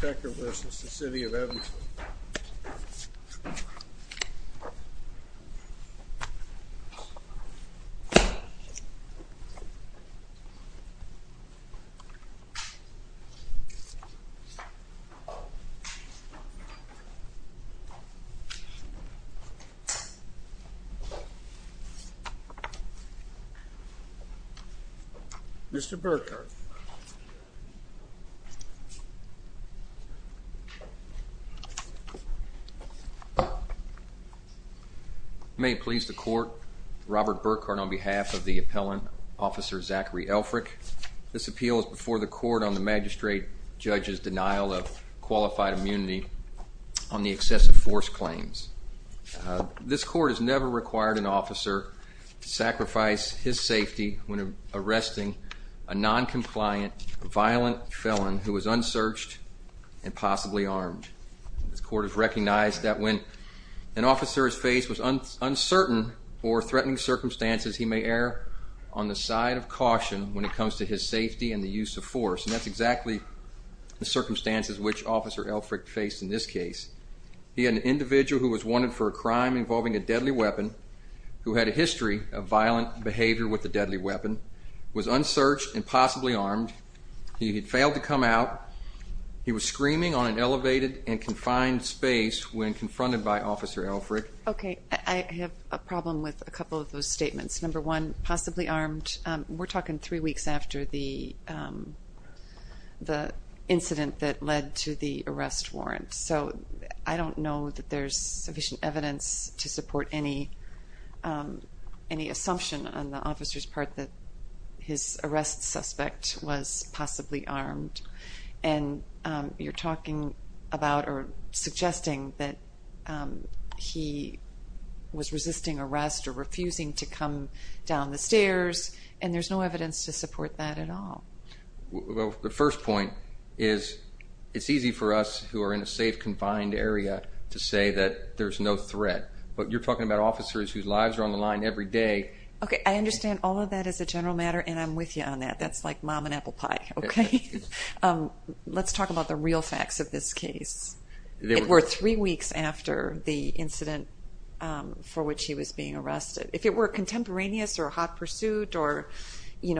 Becker v. The City of Evansville Mr. Burkhart May it please the court, Robert Burkhart on behalf of the appellant, Officer Zachary Effriech. This appeal is before the court on the magistrate judge's denial of qualified immunity on the excessive force claims. This court has never required an officer to sacrifice his safety when arresting a non-compliant violent felon who was unsearched and possibly armed. This court has recognized that when an officer's face was uncertain or threatening circumstances, he may err on the side of caution when it comes to his safety and the use of force. And that's exactly the circumstances which Officer Effriech faced in this case. He had an individual who was wanted for a crime involving a deadly weapon, who had a history of violent behavior with a deadly weapon, was unsearched and possibly armed, he had failed to come out, he was screaming on an elevated and confined space when confronted by Officer Effriech. Okay, I have a problem with a couple of those statements. Number one, possibly armed, we're talking three weeks after the incident that led to the arrest warrant. So I don't know that there's sufficient evidence to support any assumption on the officer's part that his arrest suspect was possibly armed. And you're talking about or suggesting that he was resisting arrest or refusing to come down the stairs, and there's no evidence to support that at all. Well, the first point is, it's easy for us who are in a safe, confined area to say that there's no threat, but you're talking about officers whose lives are on the line every day. Okay, I understand all of that as a general matter, and I'm with you on that. That's like mom and apple pie, okay? Let's talk about the real facts of this case. It were three weeks after the incident for which he was being arrested. If it were contemporaneous or a hot pursuit or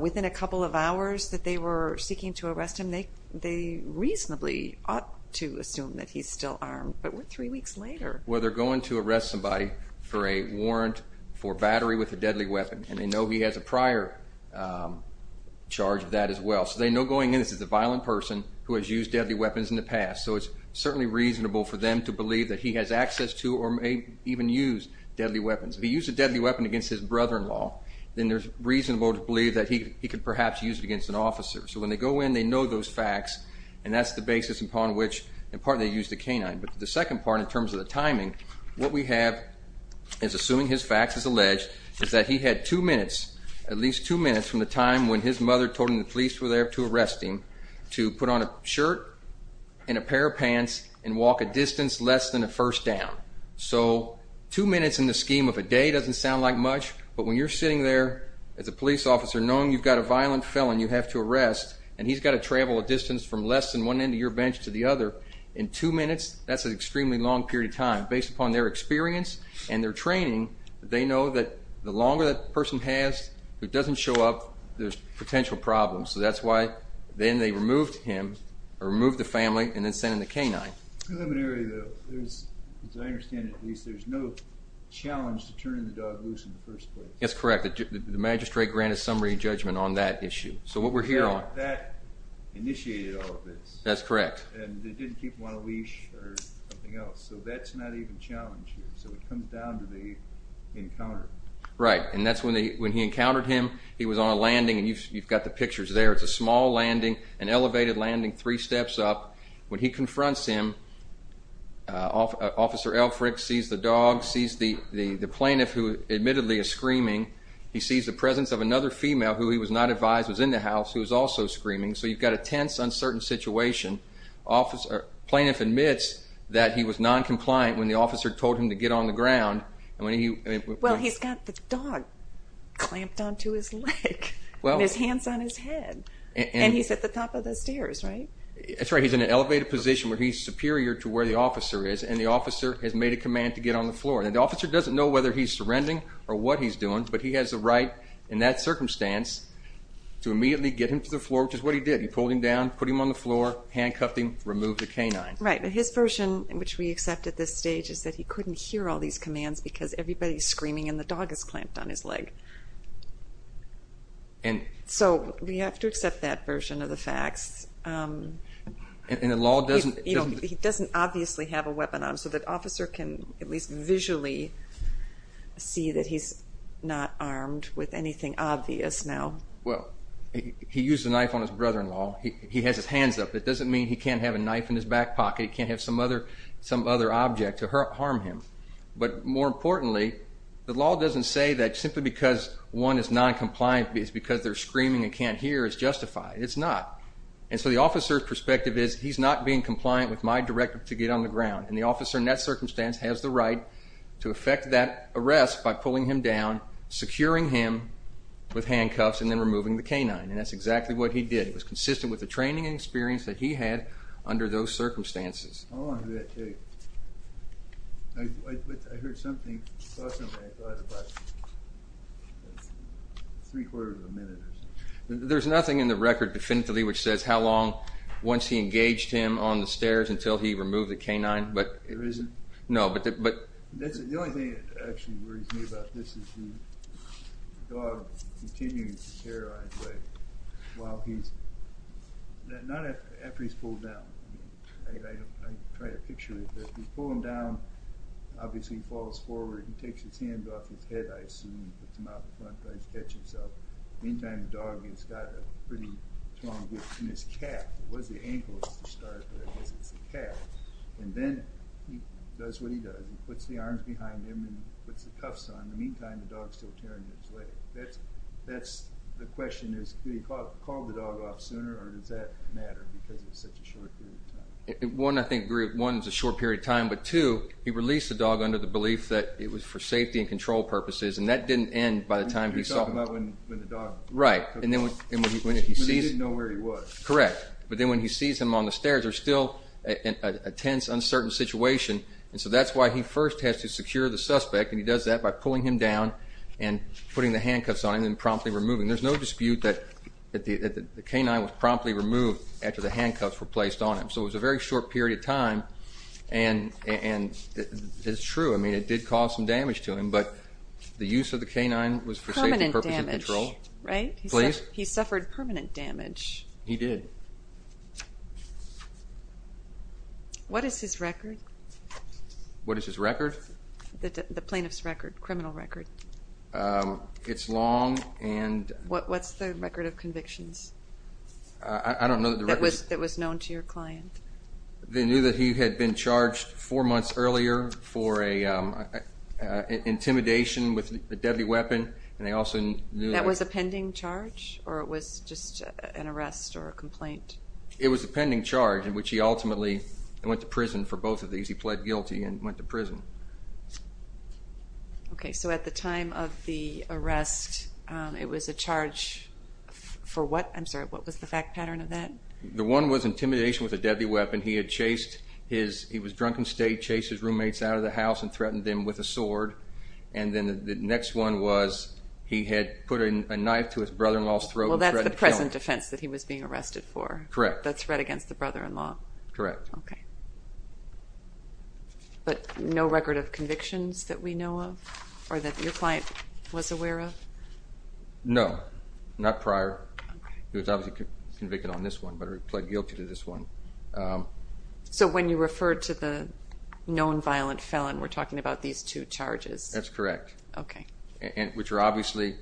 within a couple of hours that they were seeking to arrest him, they reasonably ought to assume that he's still armed, but what three weeks later? Well, they're going to arrest somebody for a warrant for battery with a deadly weapon, and they know he has a prior charge of that as well. So they know going in, this is a violent person who has used deadly weapons in the past, so it's certainly reasonable for them to believe that he has access to or may even use deadly weapons. If he used a deadly weapon against his brother-in-law, then there's reasonable to believe that he could perhaps use it against an officer. So when they go in, they know those facts, and that's the basis upon which, in part, they use the canine. But the second part in terms of the timing, what we have is assuming his facts as alleged is that he had two minutes, at least two minutes from the time when his mother told him the police were there to arrest him, to put on a shirt and a pair of pants and walk a distance less than a first down. So two minutes in the scheme of a day doesn't sound like much, but when you're sitting there as a police officer knowing you've got a violent felon you have to arrest, and he's got to travel a distance from less than one end of your bench to the other, in two minutes, that's an extremely long period of time. Based upon their experience and their training, they know that the longer that person has who doesn't show up, there's potential problems. So that's why then they removed him, or removed the family, and then sent in the canine. Preliminary, though, as I understand it, there's no challenge to turning the dog loose in the first place. That's correct. The magistrate granted summary judgment on that issue. So what we're here on... That initiated all of this. That's correct. And they didn't keep him on a leash or something else. So that's not even a challenge here, so it comes down to the encounter. Right. And that's when he encountered him, he was on a landing, and you've got the pictures there. It's a small landing, an elevated landing, three steps up. When he confronts him, Officer Elfrick sees the dog, sees the plaintiff, who admittedly is screaming. He sees the presence of another female who he was not advised was in the house, who was also screaming. So you've got a tense, uncertain situation. Plaintiff admits that he was noncompliant when the officer told him to get on the ground. Well he's got the dog clamped onto his leg, and his hands on his head, and he's at the top of the stairs, right? That's right. He's in an elevated position where he's superior to where the officer is, and the officer has made a command to get on the floor. And the officer doesn't know whether he's surrendering or what he's doing, but he has the right in that circumstance to immediately get him to the floor, which is what he did. He pulled him down, put him on the floor, handcuffed him, removed the canine. Right. But his version, which we accept at this stage, is that he couldn't hear all these commands because everybody's screaming and the dog is clamped on his leg. And... So we have to accept that version of the facts. And the law doesn't... You know, he doesn't obviously have a weapon on him, so the officer can at least visually see that he's not armed with anything obvious now. Well, he used a knife on his brother-in-law. He has his hands up. It doesn't mean he can't have a knife in his back pocket, he can't have some other object to harm him. But more importantly, the law doesn't say that simply because one is noncompliant is because they're screaming and can't hear is justified. It's not. And so the officer's perspective is, he's not being compliant with my directive to get on the ground. And the officer in that circumstance has the right to effect that arrest by pulling him down, securing him with handcuffs, and then removing the canine. And that's exactly what he did. It was consistent with the training and experience that he had under those circumstances. I want to do that too. I heard something, saw something, I thought it was about three quarters of a minute or something. There's nothing in the record definitively which says how long, once he engaged him on the stairs until he removed the canine. There isn't? No. The only thing that actually worries me about this is the dog continues to terrorize, but while he's, not after he's pulled down. I tried to picture it. He's pulled him down, obviously he falls forward, he takes his hands off his head, I assume, puts them out in front, tries to catch himself. In the meantime, the dog has got a pretty strong grip on his calf. It was the ankle at the start, but I guess it's the calf. And then he does what he does. He puts the arms behind him and puts the cuffs on. In the meantime, the dog's still tearing his leg. That's, the question is, do they call the dog off sooner or does that matter because it's such a short period of time? One, I think, one, it's a short period of time, but two, he released the dog under the belief that it was for safety and control purposes, and that didn't end by the time he saw him. You're talking about when the dog. Right. When he didn't know where he was. Correct. But then when he sees him on the stairs, there's still a tense, uncertain situation, and so that's why he first has to secure the suspect, and he does that by pulling him down and putting the handcuffs on him and promptly removing him. There's no dispute that the canine was promptly removed after the handcuffs were placed on him. So it was a very short period of time, and it's true. I mean, it did cause some damage to him, but the use of the canine was for safety purposes and control. Permanent damage. Right? Please. He suffered permanent damage. He did. What is his record? What is his record? The plaintiff's record, criminal record. It's long and... What's the record of convictions? I don't know that the record... That was known to your client. They knew that he had been charged four months earlier for intimidation with a deadly weapon, and they also knew that... That was a pending charge, or it was just an arrest or a complaint? It was a pending charge in which he ultimately went to prison for both of these. He pled guilty and went to prison. Okay. So at the time of the arrest, it was a charge for what? I'm sorry. What was the fact pattern of that? The one was intimidation with a deadly weapon. He had chased his... He was drunk and stayed, chased his roommates out of the house and threatened them with a sword, and then the next one was he had put a knife to his brother-in-law's throat and threatened... Well, that's the present defense that he was being arrested for. Correct. The threat against the brother-in-law. Correct. Okay. But no record of convictions that we know of or that your client was aware of? No. Not prior. He was obviously convicted on this one, but he pled guilty to this one. So when you refer to the known violent felon, we're talking about these two charges? That's correct. Okay. Which are obviously...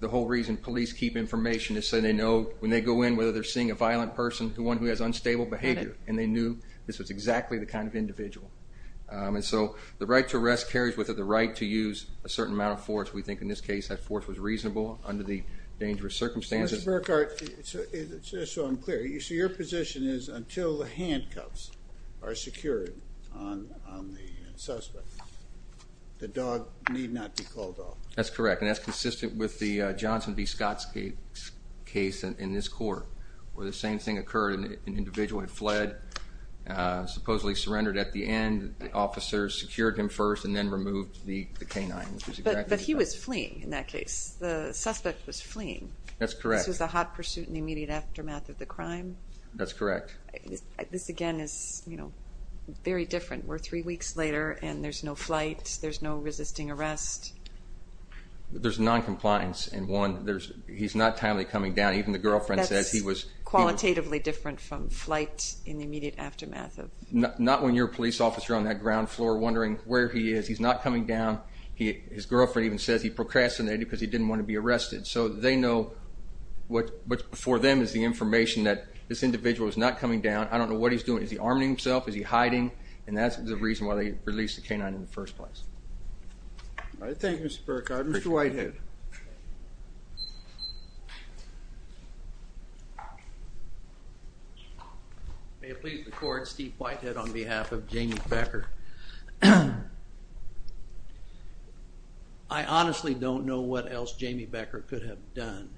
The whole reason police keep information is so they know when they go in whether they're And they knew this was exactly the kind of individual. And so the right to arrest carries with it the right to use a certain amount of force. We think in this case that force was reasonable under the dangerous circumstances. Mr. Burkhart, just so I'm clear, so your position is until the handcuffs are secured on the suspect, the dog need not be called off? That's correct, and that's consistent with the Johnson v. Scott case in this court where the same thing occurred. An individual had fled, supposedly surrendered at the end. The officers secured him first and then removed the canine. But he was fleeing in that case. The suspect was fleeing. That's correct. This was a hot pursuit in the immediate aftermath of the crime? That's correct. This, again, is very different. We're three weeks later, and there's no flight. There's no resisting arrest. There's noncompliance in one. He's not timely coming down. Even the girlfriend says he was... That's qualitatively different from flight in the immediate aftermath of... Not when you're a police officer on that ground floor wondering where he is. He's not coming down. His girlfriend even says he procrastinated because he didn't want to be arrested. So they know what's before them is the information that this individual is not coming down. I don't know what he's doing. Is he arming himself? Is he hiding? And that's the reason why they released the canine in the first place. Thank you, Mr. Burkhart. Mr. Whitehead. May it please the Court, Steve Whitehead on behalf of Jamie Becker. I honestly don't know what else Jamie Becker could have done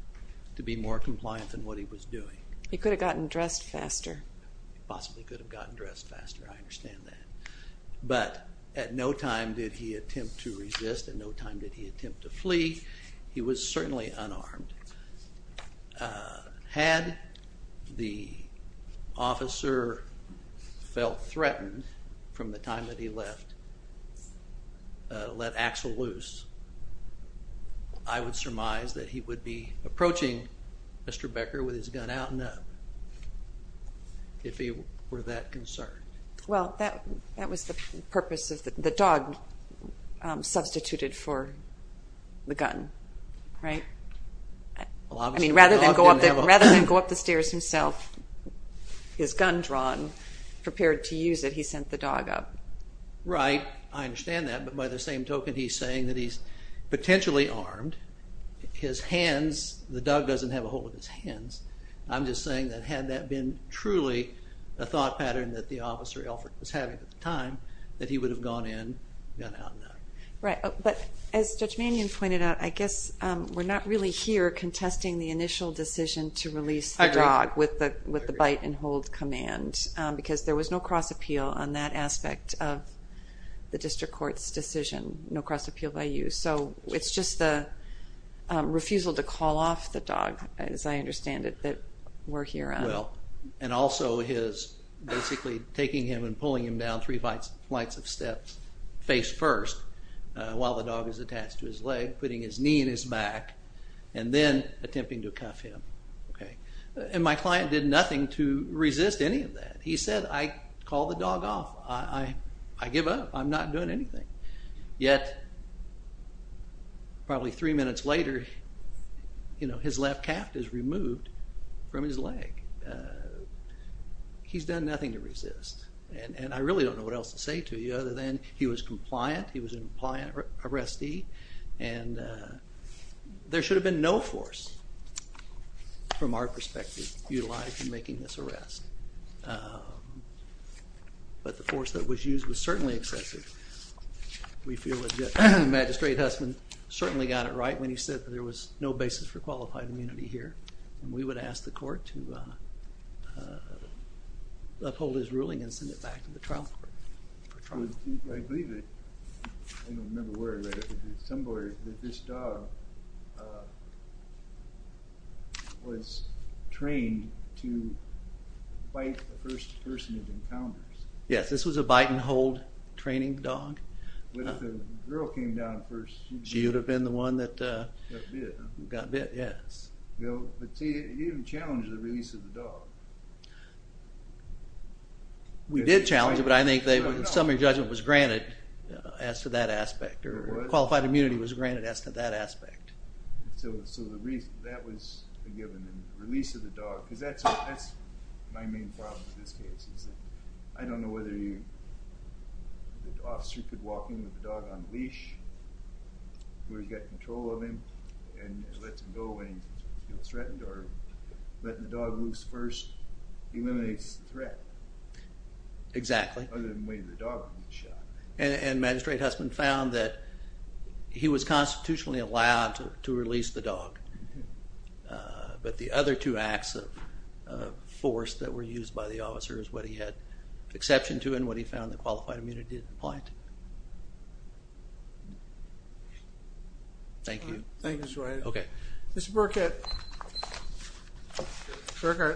to be more compliant than what he was doing. He could have gotten dressed faster. Possibly could have gotten dressed faster. I understand that. But at no time did he attempt to resist. At no time did he attempt to flee. He was certainly unarmed. Had the officer felt threatened from the time that he left, let Axel loose, I would surmise that he would be approaching Mr. Becker with his gun out and up if he were that concerned. Well, that was the purpose of the dog substituted for the gun, right? I mean, rather than go up the stairs himself, his gun drawn, prepared to use it, he sent the dog up. Right. I understand that. But by the same token, he's saying that he's potentially armed. His hands, the dog doesn't have a hold of his hands. I'm just saying that had that been truly a thought pattern that the officer, Alfred, was having at the time, that he would have gone in, gun out and up. Right. But as Judge Mannion pointed out, I guess we're not really here contesting the initial decision to release the dog. I agree. With the bite and hold command because there was no cross appeal on that aspect of the district court's decision. No cross appeal by you. So it's just the refusal to call off the dog, as I understand it, that we're here on. Well, and also his basically taking him and pulling him down three flights of steps, face first, while the dog is attached to his leg, putting his knee in his back, and then attempting to cuff him. Okay. And my client did nothing to resist any of that. He said, I call the dog off. I give up. I'm not doing anything. Yet, probably three minutes later, his left calf is removed from his leg. He's done nothing to resist. And I really don't know what else to say to you other than he was compliant. He was a compliant arrestee. And there should have been no force, from our perspective, utilized in making this arrest. But the force that was used was certainly excessive. We feel that Magistrate Hussman certainly got it right when he said that there was no basis for qualified immunity here. And we would ask the court to uphold his ruling and send it back to the trial court. I believe it. I don't remember where I read it. But it's somewhere that this dog was trained to bite the first person it encounters. Yes, this was a bite and hold training dog. But if the girl came down first, she would have been the one that got bit. Yes. But see, he didn't challenge the release of the dog. We did challenge it, but I think the summary judgment was granted as to that aspect. Qualified immunity was granted as to that aspect. So that was a given, the release of the dog. Because that's my main problem with this case. I don't know whether the officer could walk in with the dog on a leash where he's got control of him and let him go when he was threatened or letting the dog loose first eliminates the threat. Exactly. Other than waiting for the dog to be shot. And Magistrate Hussman found that he was constitutionally allowed to release the dog. But the other two acts of force that were used by the officer is what he had exception to and what he found the qualified immunity didn't apply to. Thank you. Thank you, Mr. Wright. Okay. Mr. Burkett,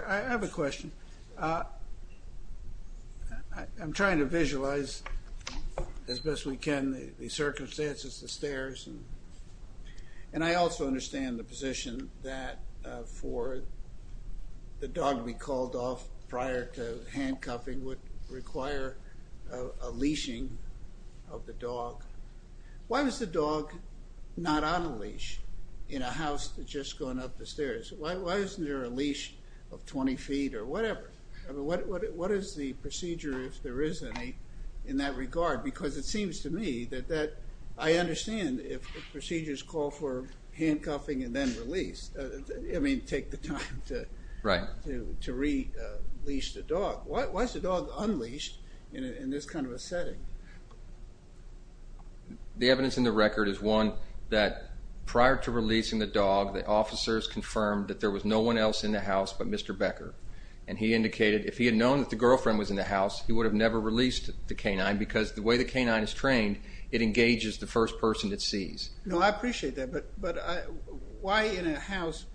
I have a question. I'm trying to visualize as best we can the circumstances, the stairs. And I also understand the position that for the dog to be called off prior to handcuffing would require a leashing of the dog. Why was the dog not on a leash in a house that had just gone up the stairs? Why isn't there a leash of 20 feet or whatever? What is the procedure if there is any in that regard? Because it seems to me that I understand if procedures call for handcuffing and then release. I mean, take the time to release the dog. Why is the dog unleashed in this kind of a setting? The evidence in the record is one that prior to releasing the dog, the officers confirmed that there was no one else in the house but Mr. Becker. And he indicated if he had known that the girlfriend was in the house, he would have never released the canine because the way the canine is trained, it engages the first person it sees. No, I appreciate that. But why in a house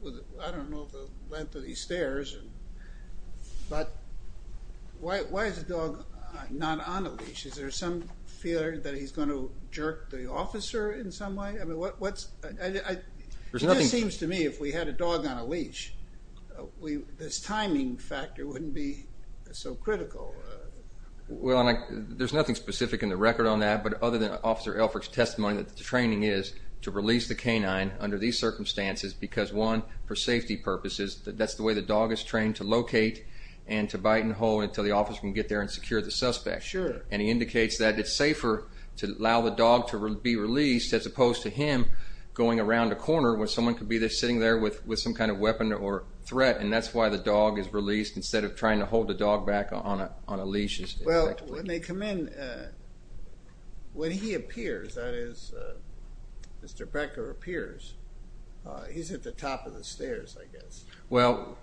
with, I don't know, the length of these stairs, but why is the dog not on a leash? Is there some fear that he's going to jerk the officer in some way? I mean, it just seems to me if we had a dog on a leash, this timing factor wouldn't be so critical. Well, there's nothing specific in the record on that other than Officer Elfrick's testimony that the training is to release the canine under these circumstances because, one, for safety purposes, that's the way the dog is trained to locate and to bite and hold until the officer can get there and secure the suspect. Sure. And he indicates that it's safer to allow the dog to be released as opposed to him going around a corner where someone could be sitting there with some kind of weapon or threat. And that's why the dog is released instead of trying to hold the dog back on a leash. Well, when they come in, when he appears, that is, Mr. Becker appears, he's at the top of the stairs, I guess. Well,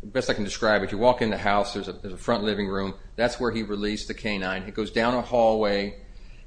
the best I can describe it, you walk in the house, there's a front living room, that's where he released the canine. He goes down a hallway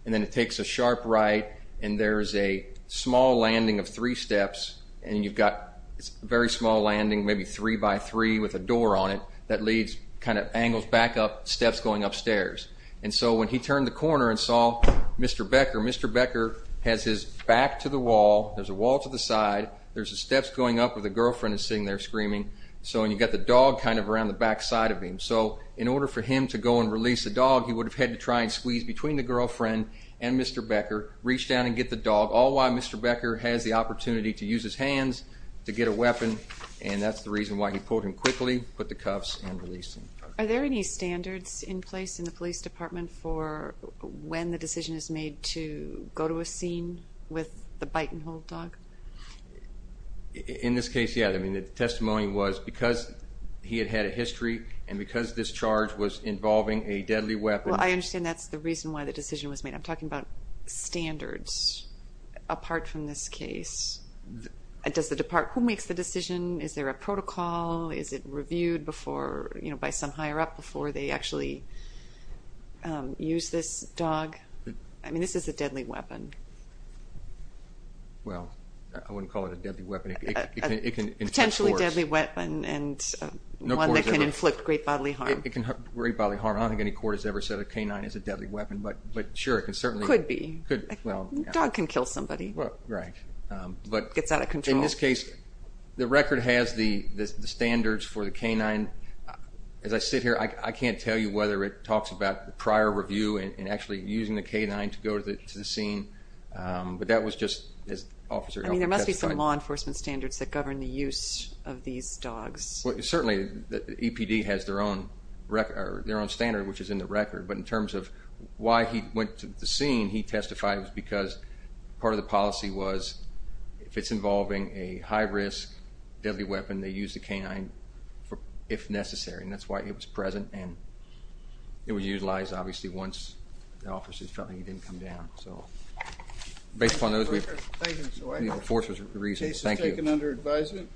and then it takes a sharp right and there's a small landing of three steps and you've got a very small landing, maybe three by three with a door on it, that leads, kind of angles back up, steps going upstairs. And so when he turned the corner and saw Mr. Becker, Mr. Becker has his back to the wall, there's a wall to the side, there's the steps going up where the girlfriend is sitting there screaming, and you've got the dog kind of around the back side of him. So in order for him to go and release the dog, he would have had to try and squeeze between the girlfriend and Mr. Becker, reach down and get the dog, all while Mr. Becker has the opportunity to use his weapon, and that's the reason why he pulled him quickly, put the cuffs and released him. Are there any standards in place in the police department for when the decision is made to go to a scene with the bite and hold dog? In this case, yeah. I mean, the testimony was because he had had a history and because this charge was involving a deadly weapon. Well, I understand that's the reason why the decision was made. I'm talking about standards apart from this case. Who makes the decision? Is there a protocol? Is it reviewed by some higher up before they actually use this dog? I mean, this is a deadly weapon. Well, I wouldn't call it a deadly weapon. Potentially deadly weapon and one that can inflict great bodily harm. Great bodily harm. I don't think any court has ever said a canine is a deadly weapon, but sure, it can certainly be. Could be. A dog can kill somebody. Right. Gets out of control. In this case, the record has the standards for the canine. As I sit here, I can't tell you whether it talks about the prior review and actually using the canine to go to the scene, but that was just as Officer Hoffman testified. I mean, there must be some law enforcement standards that govern the use of these dogs. Well, certainly the EPD has their own standard, which is in the record, but in terms of why he went to the scene, he testified it was because part of the policy was if it's involving a high-risk deadly weapon, they use the canine if necessary, and that's why it was present and it was utilized, obviously, once the officers felt like he didn't come down. So based upon those, the force was reasonable. Thank you. The case is taken under advisement.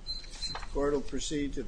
Court will proceed to the hearing.